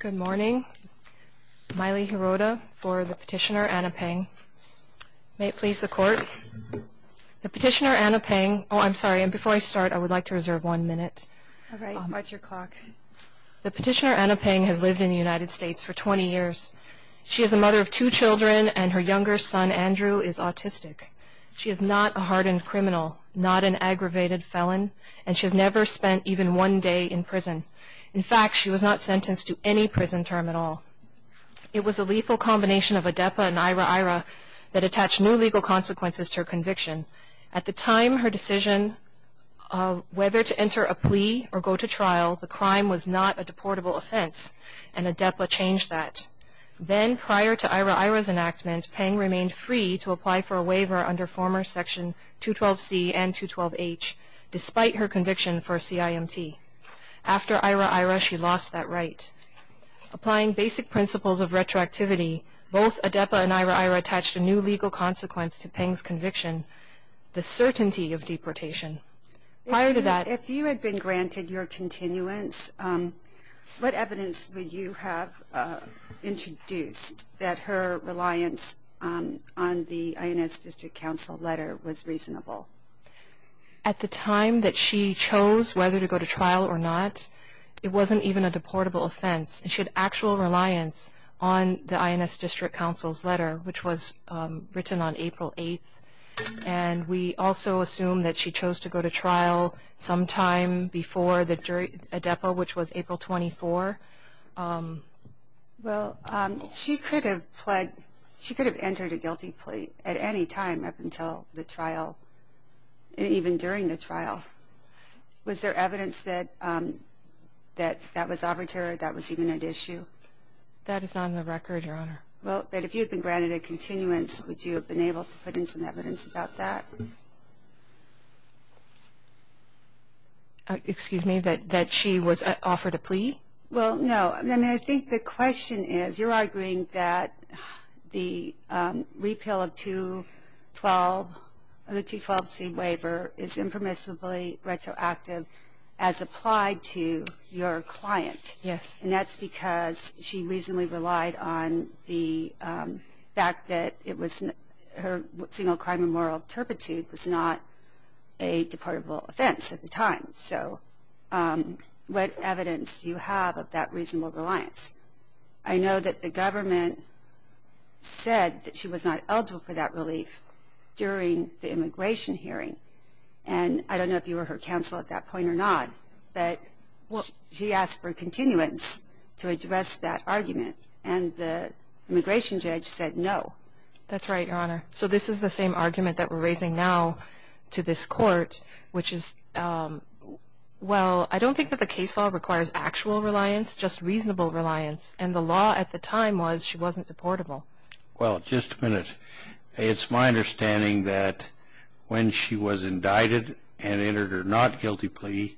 Good morning. Miley Hirota for the Petitioner Anna Peng. May it please the Court. The Petitioner Anna Peng... Oh, I'm sorry, and before I start, I would like to reserve one minute. All right. What's your clock? The Petitioner Anna Peng has lived in the United States for 20 years. She is a mother of two children, and her younger son, Andrew, is autistic. She is not a hardened criminal, not an aggravated felon, and she has never spent even one day in prison. In fact, she was not sentenced to any prison term at all. It was a lethal combination of ADEPA and IRA-IRA that attached new legal consequences to her conviction. At the time, her decision of whether to enter a plea or go to trial, the crime was not a deportable offense, and ADEPA changed that. Then, prior to IRA-IRA's enactment, Peng remained free to apply for a waiver under former Section 212C and 212H, despite her conviction for a CIMT. After IRA-IRA, she lost that right. Applying basic principles of retroactivity, both ADEPA and IRA-IRA attached a new legal consequence to Peng's conviction, the certainty of deportation. Prior to that... If you had been granted your continuance, what evidence would you have introduced that her reliance on the INS District Counsel letter was reasonable? At the time that she chose whether to go to trial or not, it wasn't even a deportable offense. She had actual reliance on the INS District Counsel's letter, which was written on April 8th, and we also assume that she chose to go to trial sometime before ADEPA, which was April 24th. Well, she could have pled... She could have entered a guilty plea at any time up until the trial, even during the trial. Was there evidence that that was arbitrary, that was even at issue? That is not on the record, Your Honor. Well, but if you had been granted a continuance, would you have been able to put in some evidence about that? Excuse me, that she was offered a plea? Well, no. I mean, I think the question is, you're arguing that the repeal of 212... of the 212C waiver is impermissibly retroactive as applied to your client. Yes. And that's because she reasonably relied on the fact that it was... her single crime of moral turpitude was not a deportable offense at the time. So what evidence do you have of that reasonable reliance? I know that the government said that she was not eligible for that relief during the immigration hearing, and I don't know if you were her counsel at that point or not, but she asked for continuance to address that argument, and the immigration judge said no. That's right, Your Honor. So this is the same argument that we're raising now to this Court, which is, well, I don't think that the case law requires actual reliance, just reasonable reliance. And the law at the time was she wasn't deportable. Well, just a minute. It's my understanding that when she was indicted and entered her not guilty plea,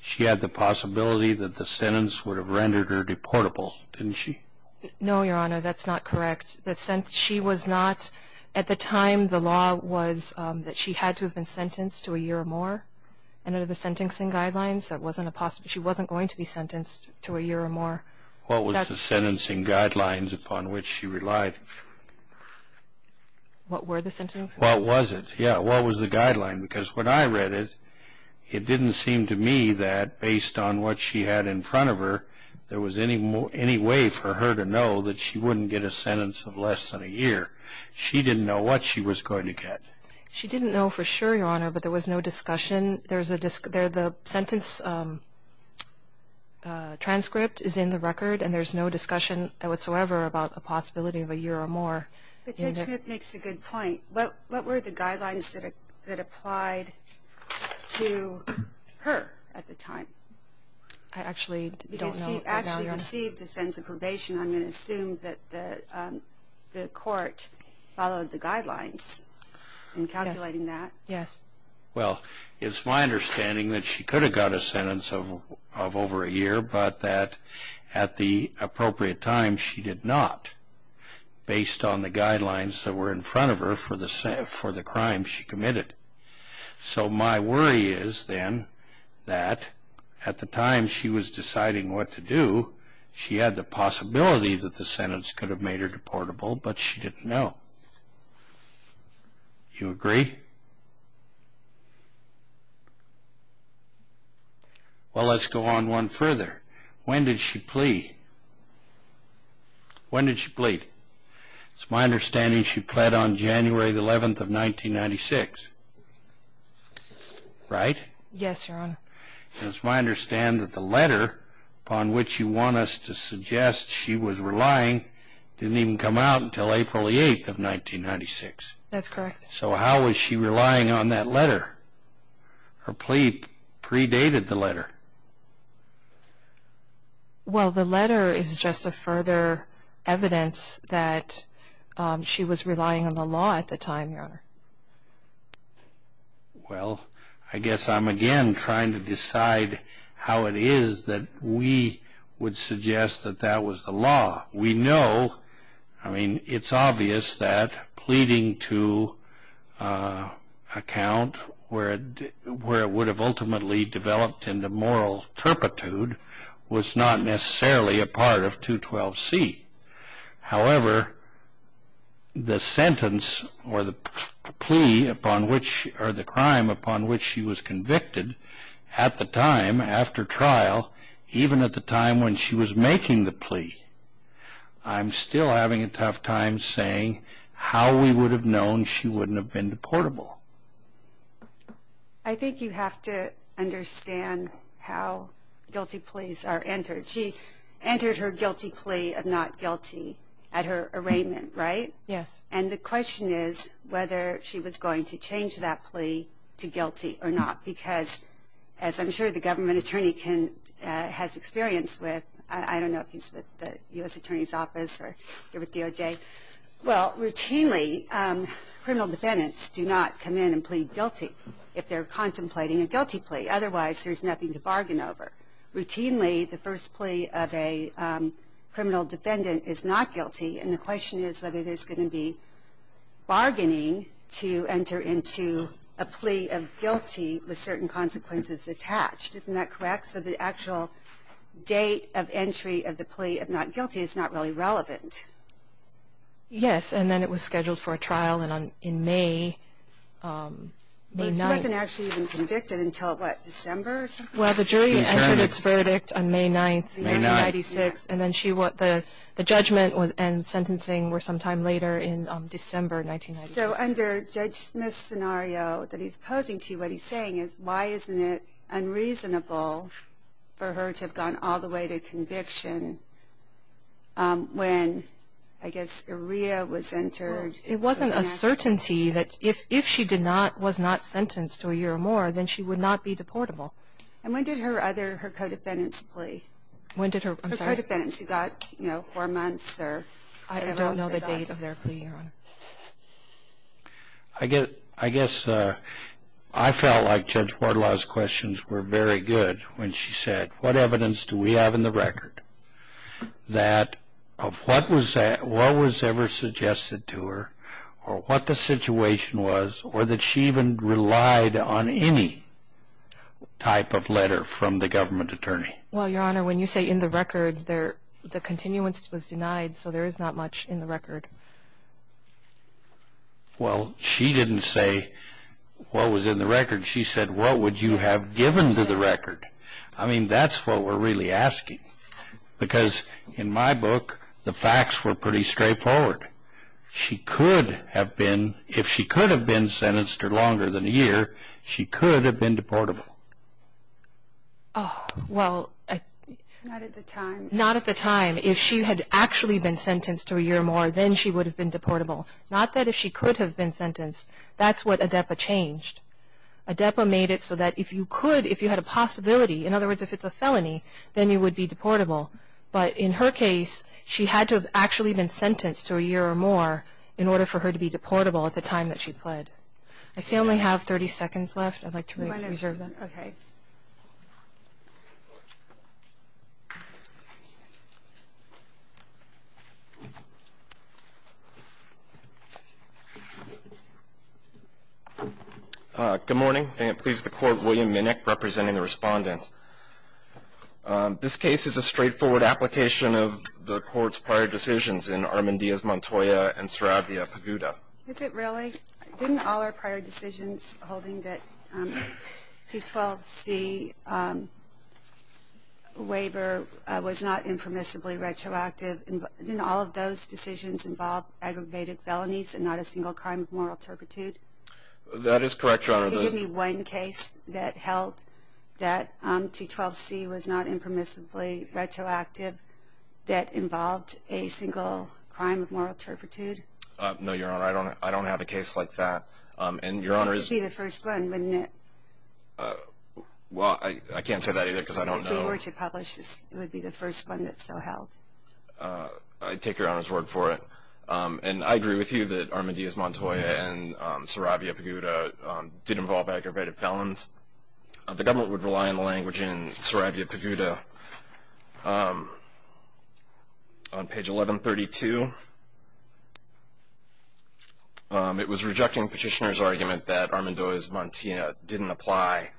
she had the possibility that the sentence would have rendered her deportable, didn't she? No, Your Honor, that's not correct. At the time, the law was that she had to have been sentenced to a year or more. Under the sentencing guidelines, that wasn't a possibility. She wasn't going to be sentenced to a year or more. What was the sentencing guidelines upon which she relied? What were the sentencing guidelines? What was it? Yeah, what was the guideline? Because when I read it, it didn't seem to me that, based on what she had in front of her, there was any way for her to know that she wouldn't get a sentence of less than a year. She didn't know what she was going to get. She didn't know for sure, Your Honor, but there was no discussion. The sentence transcript is in the record, and there's no discussion whatsoever about the possibility of a year or more. But Judge Smith makes a good point. What were the guidelines that applied to her at the time? I actually don't know. Because she actually received a sentence of probation. I'm going to assume that the court followed the guidelines in calculating that. Yes. Well, it's my understanding that she could have got a sentence of over a year, but that at the appropriate time she did not, based on the guidelines that were in front of her for the crime she committed. So my worry is, then, that at the time she was deciding what to do, she had the possibility that the sentence could have made her deportable, but she didn't know. Do you agree? Well, let's go on one further. When did she plea? When did she plead? It's my understanding she pled on January the 11th of 1996, right? Yes, Your Honor. It's my understanding that the letter upon which you want us to suggest she was relying didn't even come out until April the 8th of 1996. That's correct. So how was she relying on that letter? Her plea predated the letter. Well, the letter is just a further evidence that she was relying on the law at the time, Your Honor. Well, I guess I'm again trying to decide how it is that we would suggest that that was the law. We know, I mean, it's obvious that pleading to a count where it would have ultimately developed into moral turpitude was not necessarily a part of 212C. However, the sentence or the plea upon which or the crime upon which she was convicted at the time, after trial, even at the time when she was making the plea, I'm still having a tough time saying how we would have known she wouldn't have been deportable. I think you have to understand how guilty pleas are entered. She entered her guilty plea of not guilty at her arraignment, right? Yes. And the question is whether she was going to change that plea to guilty or not, because as I'm sure the government attorney has experience with, I don't know if he's with the U.S. Attorney's Office or here with DOJ, but, well, routinely criminal defendants do not come in and plead guilty if they're contemplating a guilty plea. Otherwise, there's nothing to bargain over. Routinely, the first plea of a criminal defendant is not guilty, and the question is whether there's going to be bargaining to enter into a plea of guilty with certain consequences attached. Isn't that correct? So the actual date of entry of the plea of not guilty is not really relevant. Yes, and then it was scheduled for a trial in May. She wasn't actually even convicted until, what, December or something? Well, the jury entered its verdict on May 9th, 1996, and then the judgment and sentencing were sometime later in December 1996. So under Judge Smith's scenario that he's posing to you, what he's saying is why isn't it unreasonable for her to have gone all the way to conviction when, I guess, a rear was entered. It wasn't a certainty that if she was not sentenced to a year or more, then she would not be deportable. And when did her co-defendants plea? When did her, I'm sorry? Her co-defendants who got, you know, four months or whatever else they got. I don't know the date of their plea, Your Honor. I guess I felt like Judge Wardlaw's questions were very good when she said, what evidence do we have in the record that of what was ever suggested to her or what the situation was or that she even relied on any type of letter from the government attorney? Well, Your Honor, when you say in the record, the continuance was denied, so there is not much in the record. Well, she didn't say what was in the record. She said what would you have given to the record. I mean, that's what we're really asking. Because in my book, the facts were pretty straightforward. She could have been, if she could have been sentenced to longer than a year, she could have been deportable. Oh, well. Not at the time. Not at the time. If she had actually been sentenced to a year or more, then she would have been deportable. Not that if she could have been sentenced. That's what ADEPA changed. ADEPA made it so that if you could, if you had a possibility, in other words, if it's a felony, then you would be deportable. But in her case, she had to have actually been sentenced to a year or more in order for her to be deportable at the time that she pled. I see I only have 30 seconds left. I'd like to reserve that. Okay. Good morning. May it please the Court, William Minnick representing the Respondent. This case is a straightforward application of the Court's prior decisions in Armandia's Montoya and Saravia Paguda. Is it really? Didn't all our prior decisions holding that 212C waiver was not impermissibly retroactive, didn't all of those decisions involve aggravated felonies and not a single crime of moral turpitude? That is correct, Your Honor. Did you give me one case that held that 212C was not impermissibly retroactive that involved a single crime of moral turpitude? No, Your Honor. I don't have a case like that. That would be the first one, wouldn't it? Well, I can't say that either because I don't know. If we were to publish this, it would be the first one that still held. I take Your Honor's word for it. And I agree with you that Armandia's Montoya and Saravia Paguda didn't involve aggravated felons. The government would rely on the language in Saravia Paguda. On page 1132, it was rejecting Petitioner's argument that Armando's Montoya didn't apply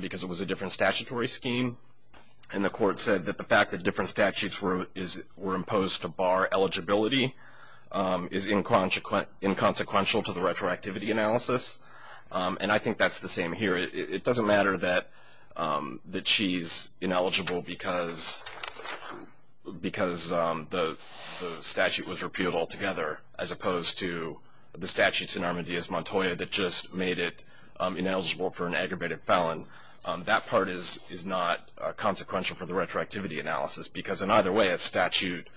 because it was a different statutory scheme, and the court said that the fact that different statutes were imposed to bar eligibility is inconsequential to the retroactivity analysis. And I think that's the same here. It doesn't matter that she's ineligible because the statute was repealed altogether, as opposed to the statute in Armandia's Montoya that just made it ineligible for an aggravated felon. That part is not consequential for the retroactivity analysis because in either way a statute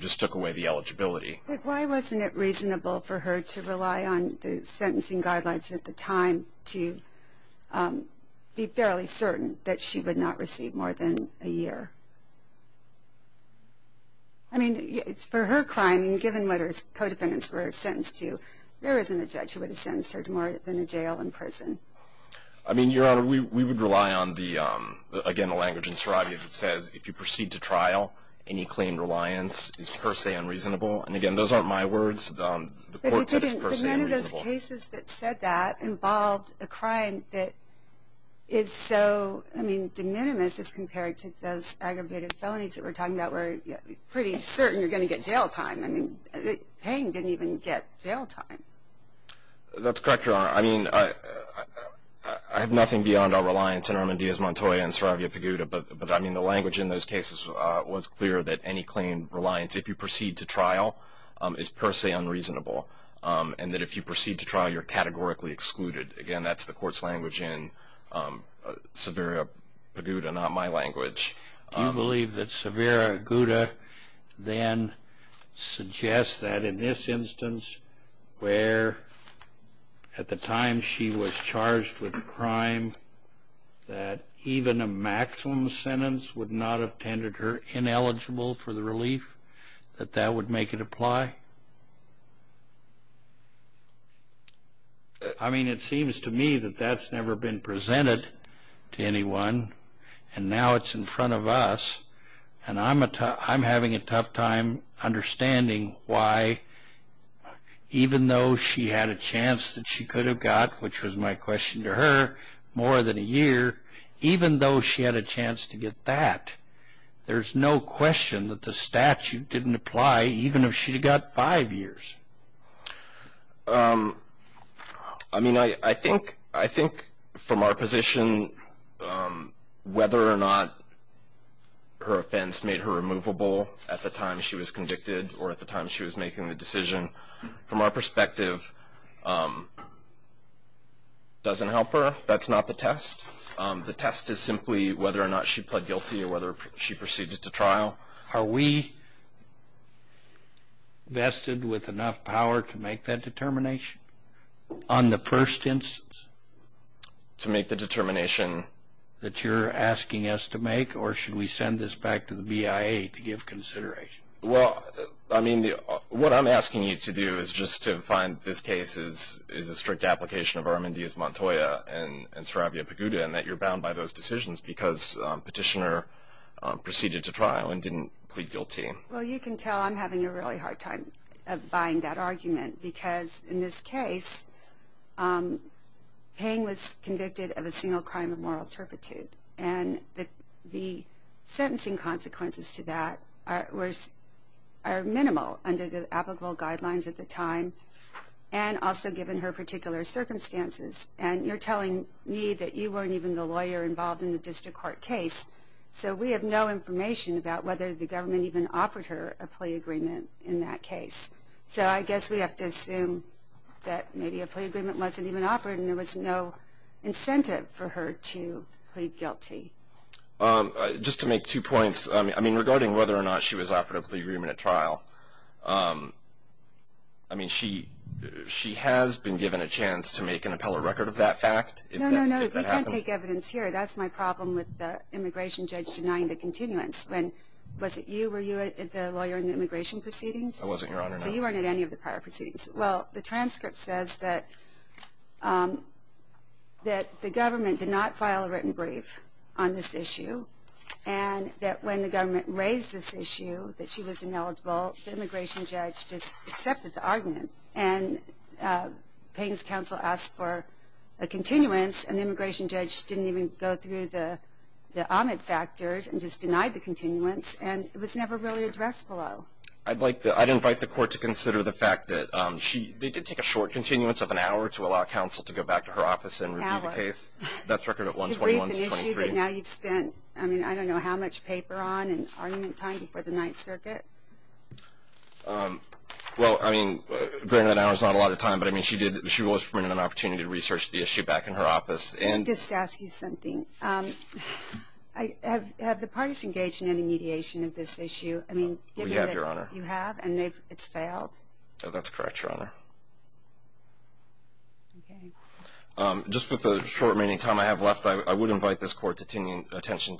just took away the eligibility. But why wasn't it reasonable for her to rely on the sentencing guidelines at the time to be fairly certain that she would not receive more than a year? I mean, for her crime, given what her co-defendants were sentenced to, there isn't a judge who would have sentenced her to more than a jail and prison. I mean, Your Honor, we would rely on, again, the language in Saravia that says, if you proceed to trial, any claimed reliance is per se unreasonable. And, again, those aren't my words. The court said it's per se unreasonable. But none of those cases that said that involved a crime that is so, I mean, de minimis as compared to those aggravated felonies that we're talking about where you're pretty certain you're going to get jail time. I mean, Payne didn't even get jail time. That's correct, Your Honor. I mean, I have nothing beyond our reliance in Armandia's Montoya and Saravia Peguta, but, I mean, the language in those cases was clear that any claimed reliance, if you proceed to trial, is per se unreasonable. And that if you proceed to trial, you're categorically excluded. Again, that's the court's language in Saravia Peguta, not my language. Do you believe that Saravia Peguta then suggests that, in this instance, where at the time she was charged with a crime, that even a maximum sentence would not have tended her ineligible for the relief, that that would make it apply? I mean, it seems to me that that's never been presented to anyone, and now it's in front of us. And I'm having a tough time understanding why, even though she had a chance that she could have got, which was my question to her, more than a year, even though she had a chance to get that, there's no question that the statute didn't apply, even if she had got five years. I mean, I think from our position, whether or not her offense made her removable at the time she was convicted or at the time she was making the decision, from our perspective, doesn't help her. That's not the test. The test is simply whether or not she pled guilty or whether she proceeded to trial. Now, are we vested with enough power to make that determination on the first instance? To make the determination that you're asking us to make, or should we send this back to the BIA to give consideration? Well, I mean, what I'm asking you to do is just to find this case is a strict application of Armin Diaz-Montoya and Sarabia Peguda, and that you're bound by those decisions because Petitioner proceeded to trial and didn't plead guilty. Well, you can tell I'm having a really hard time buying that argument, because in this case, Payne was convicted of a single crime of moral turpitude, and the sentencing consequences to that are minimal under the applicable guidelines at the time, and also given her particular circumstances. And you're telling me that you weren't even the lawyer involved in the district court case, so we have no information about whether the government even offered her a plea agreement in that case. So I guess we have to assume that maybe a plea agreement wasn't even offered and there was no incentive for her to plead guilty. Just to make two points, I mean, regarding whether or not she was offered a plea agreement at trial, I mean, she has been given a chance to make an appellate record of that fact. No, no, no. You can't take evidence here. That's my problem with the immigration judge denying the continuance. Was it you? Were you the lawyer in the immigration proceedings? I wasn't, Your Honor. So you weren't at any of the prior proceedings. Well, the transcript says that the government did not file a written brief on this issue and that when the government raised this issue that she was ineligible, the immigration judge just accepted the argument. And Payne's counsel asked for a continuance, and the immigration judge didn't even go through the omit factors and just denied the continuance, and it was never really addressed below. I'd invite the court to consider the fact that they did take a short continuance of an hour to allow counsel to go back to her office and review the case. An hour. That's a record of 121 to 23. I mean, I don't know how much paper on and argument time before the Ninth Circuit. Well, I mean, granted an hour's not a lot of time, but I mean she was permitted an opportunity to research the issue back in her office. Just to ask you something, have the parties engaged in any mediation of this issue? We have, Your Honor. You have, and it's failed? That's correct, Your Honor. Okay. Just with the short remaining time I have left, I would invite the court's attention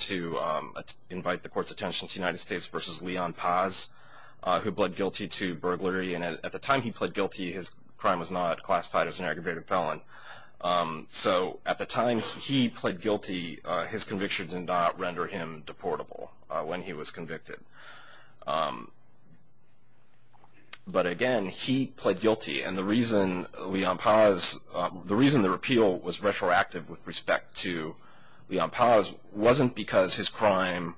to United States v. Leon Paz, who pled guilty to burglary. And at the time he pled guilty, his crime was not classified as an aggravated felon. So at the time he pled guilty, his conviction did not render him deportable when he was convicted. But, again, he pled guilty. And the reason Leon Paz, the reason the repeal was retroactive with respect to Leon Paz, wasn't because his crime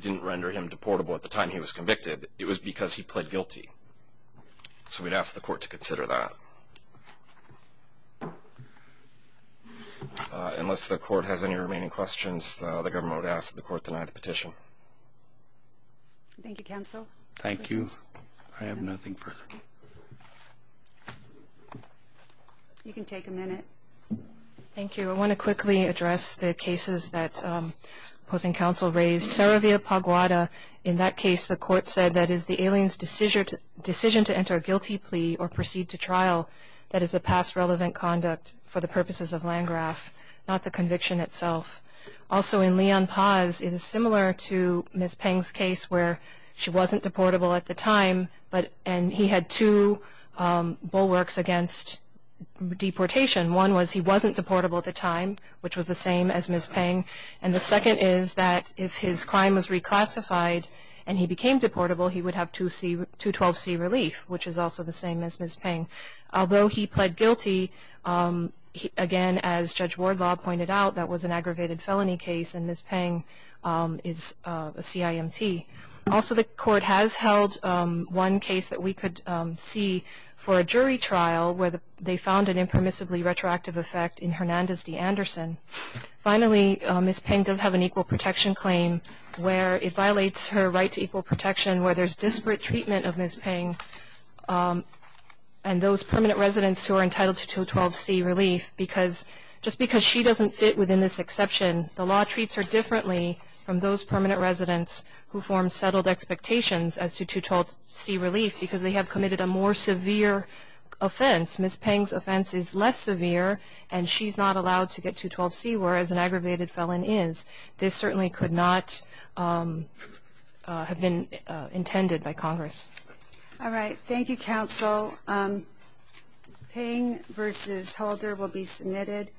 didn't render him deportable at the time he was convicted. It was because he pled guilty. So we'd ask the court to consider that. Unless the court has any remaining questions, the government would ask that the court deny the petition. Thank you, counsel. Thank you. I have nothing further. You can take a minute. Thank you. I want to quickly address the cases that opposing counsel raised. Saravia Paguada, in that case the court said that it is the alien's decision to enter a guilty plea or proceed to trial that is a past relevant conduct for the purposes of Landgraf, not the conviction itself. Also in Leon Paz, it is similar to Ms. Peng's case where she wasn't deportable at the time and he had two bulwarks against deportation. One was he wasn't deportable at the time, which was the same as Ms. Peng. And the second is that if his crime was reclassified and he became deportable, he would have 212C relief, which is also the same as Ms. Peng. Although he pled guilty, again, as Judge Wardlaw pointed out, that was an aggravated felony case and Ms. Peng is a CIMT. Also the court has held one case that we could see for a jury trial where they found an impermissibly retroactive effect in Hernandez D. Anderson. Finally, Ms. Peng does have an equal protection claim where it violates her right to equal protection where there's disparate treatment of Ms. Peng and those permanent residents who are entitled to 212C relief because just because she doesn't fit within this exception, the law treats her differently from those permanent residents who form settled expectations as to 212C relief because they have committed a more severe offense. Ms. Peng's offense is less severe and she's not allowed to get 212C whereas an aggravated felon is. This certainly could not have been intended by Congress. All right. Thank you, counsel. Peng v. Holder will be submitted.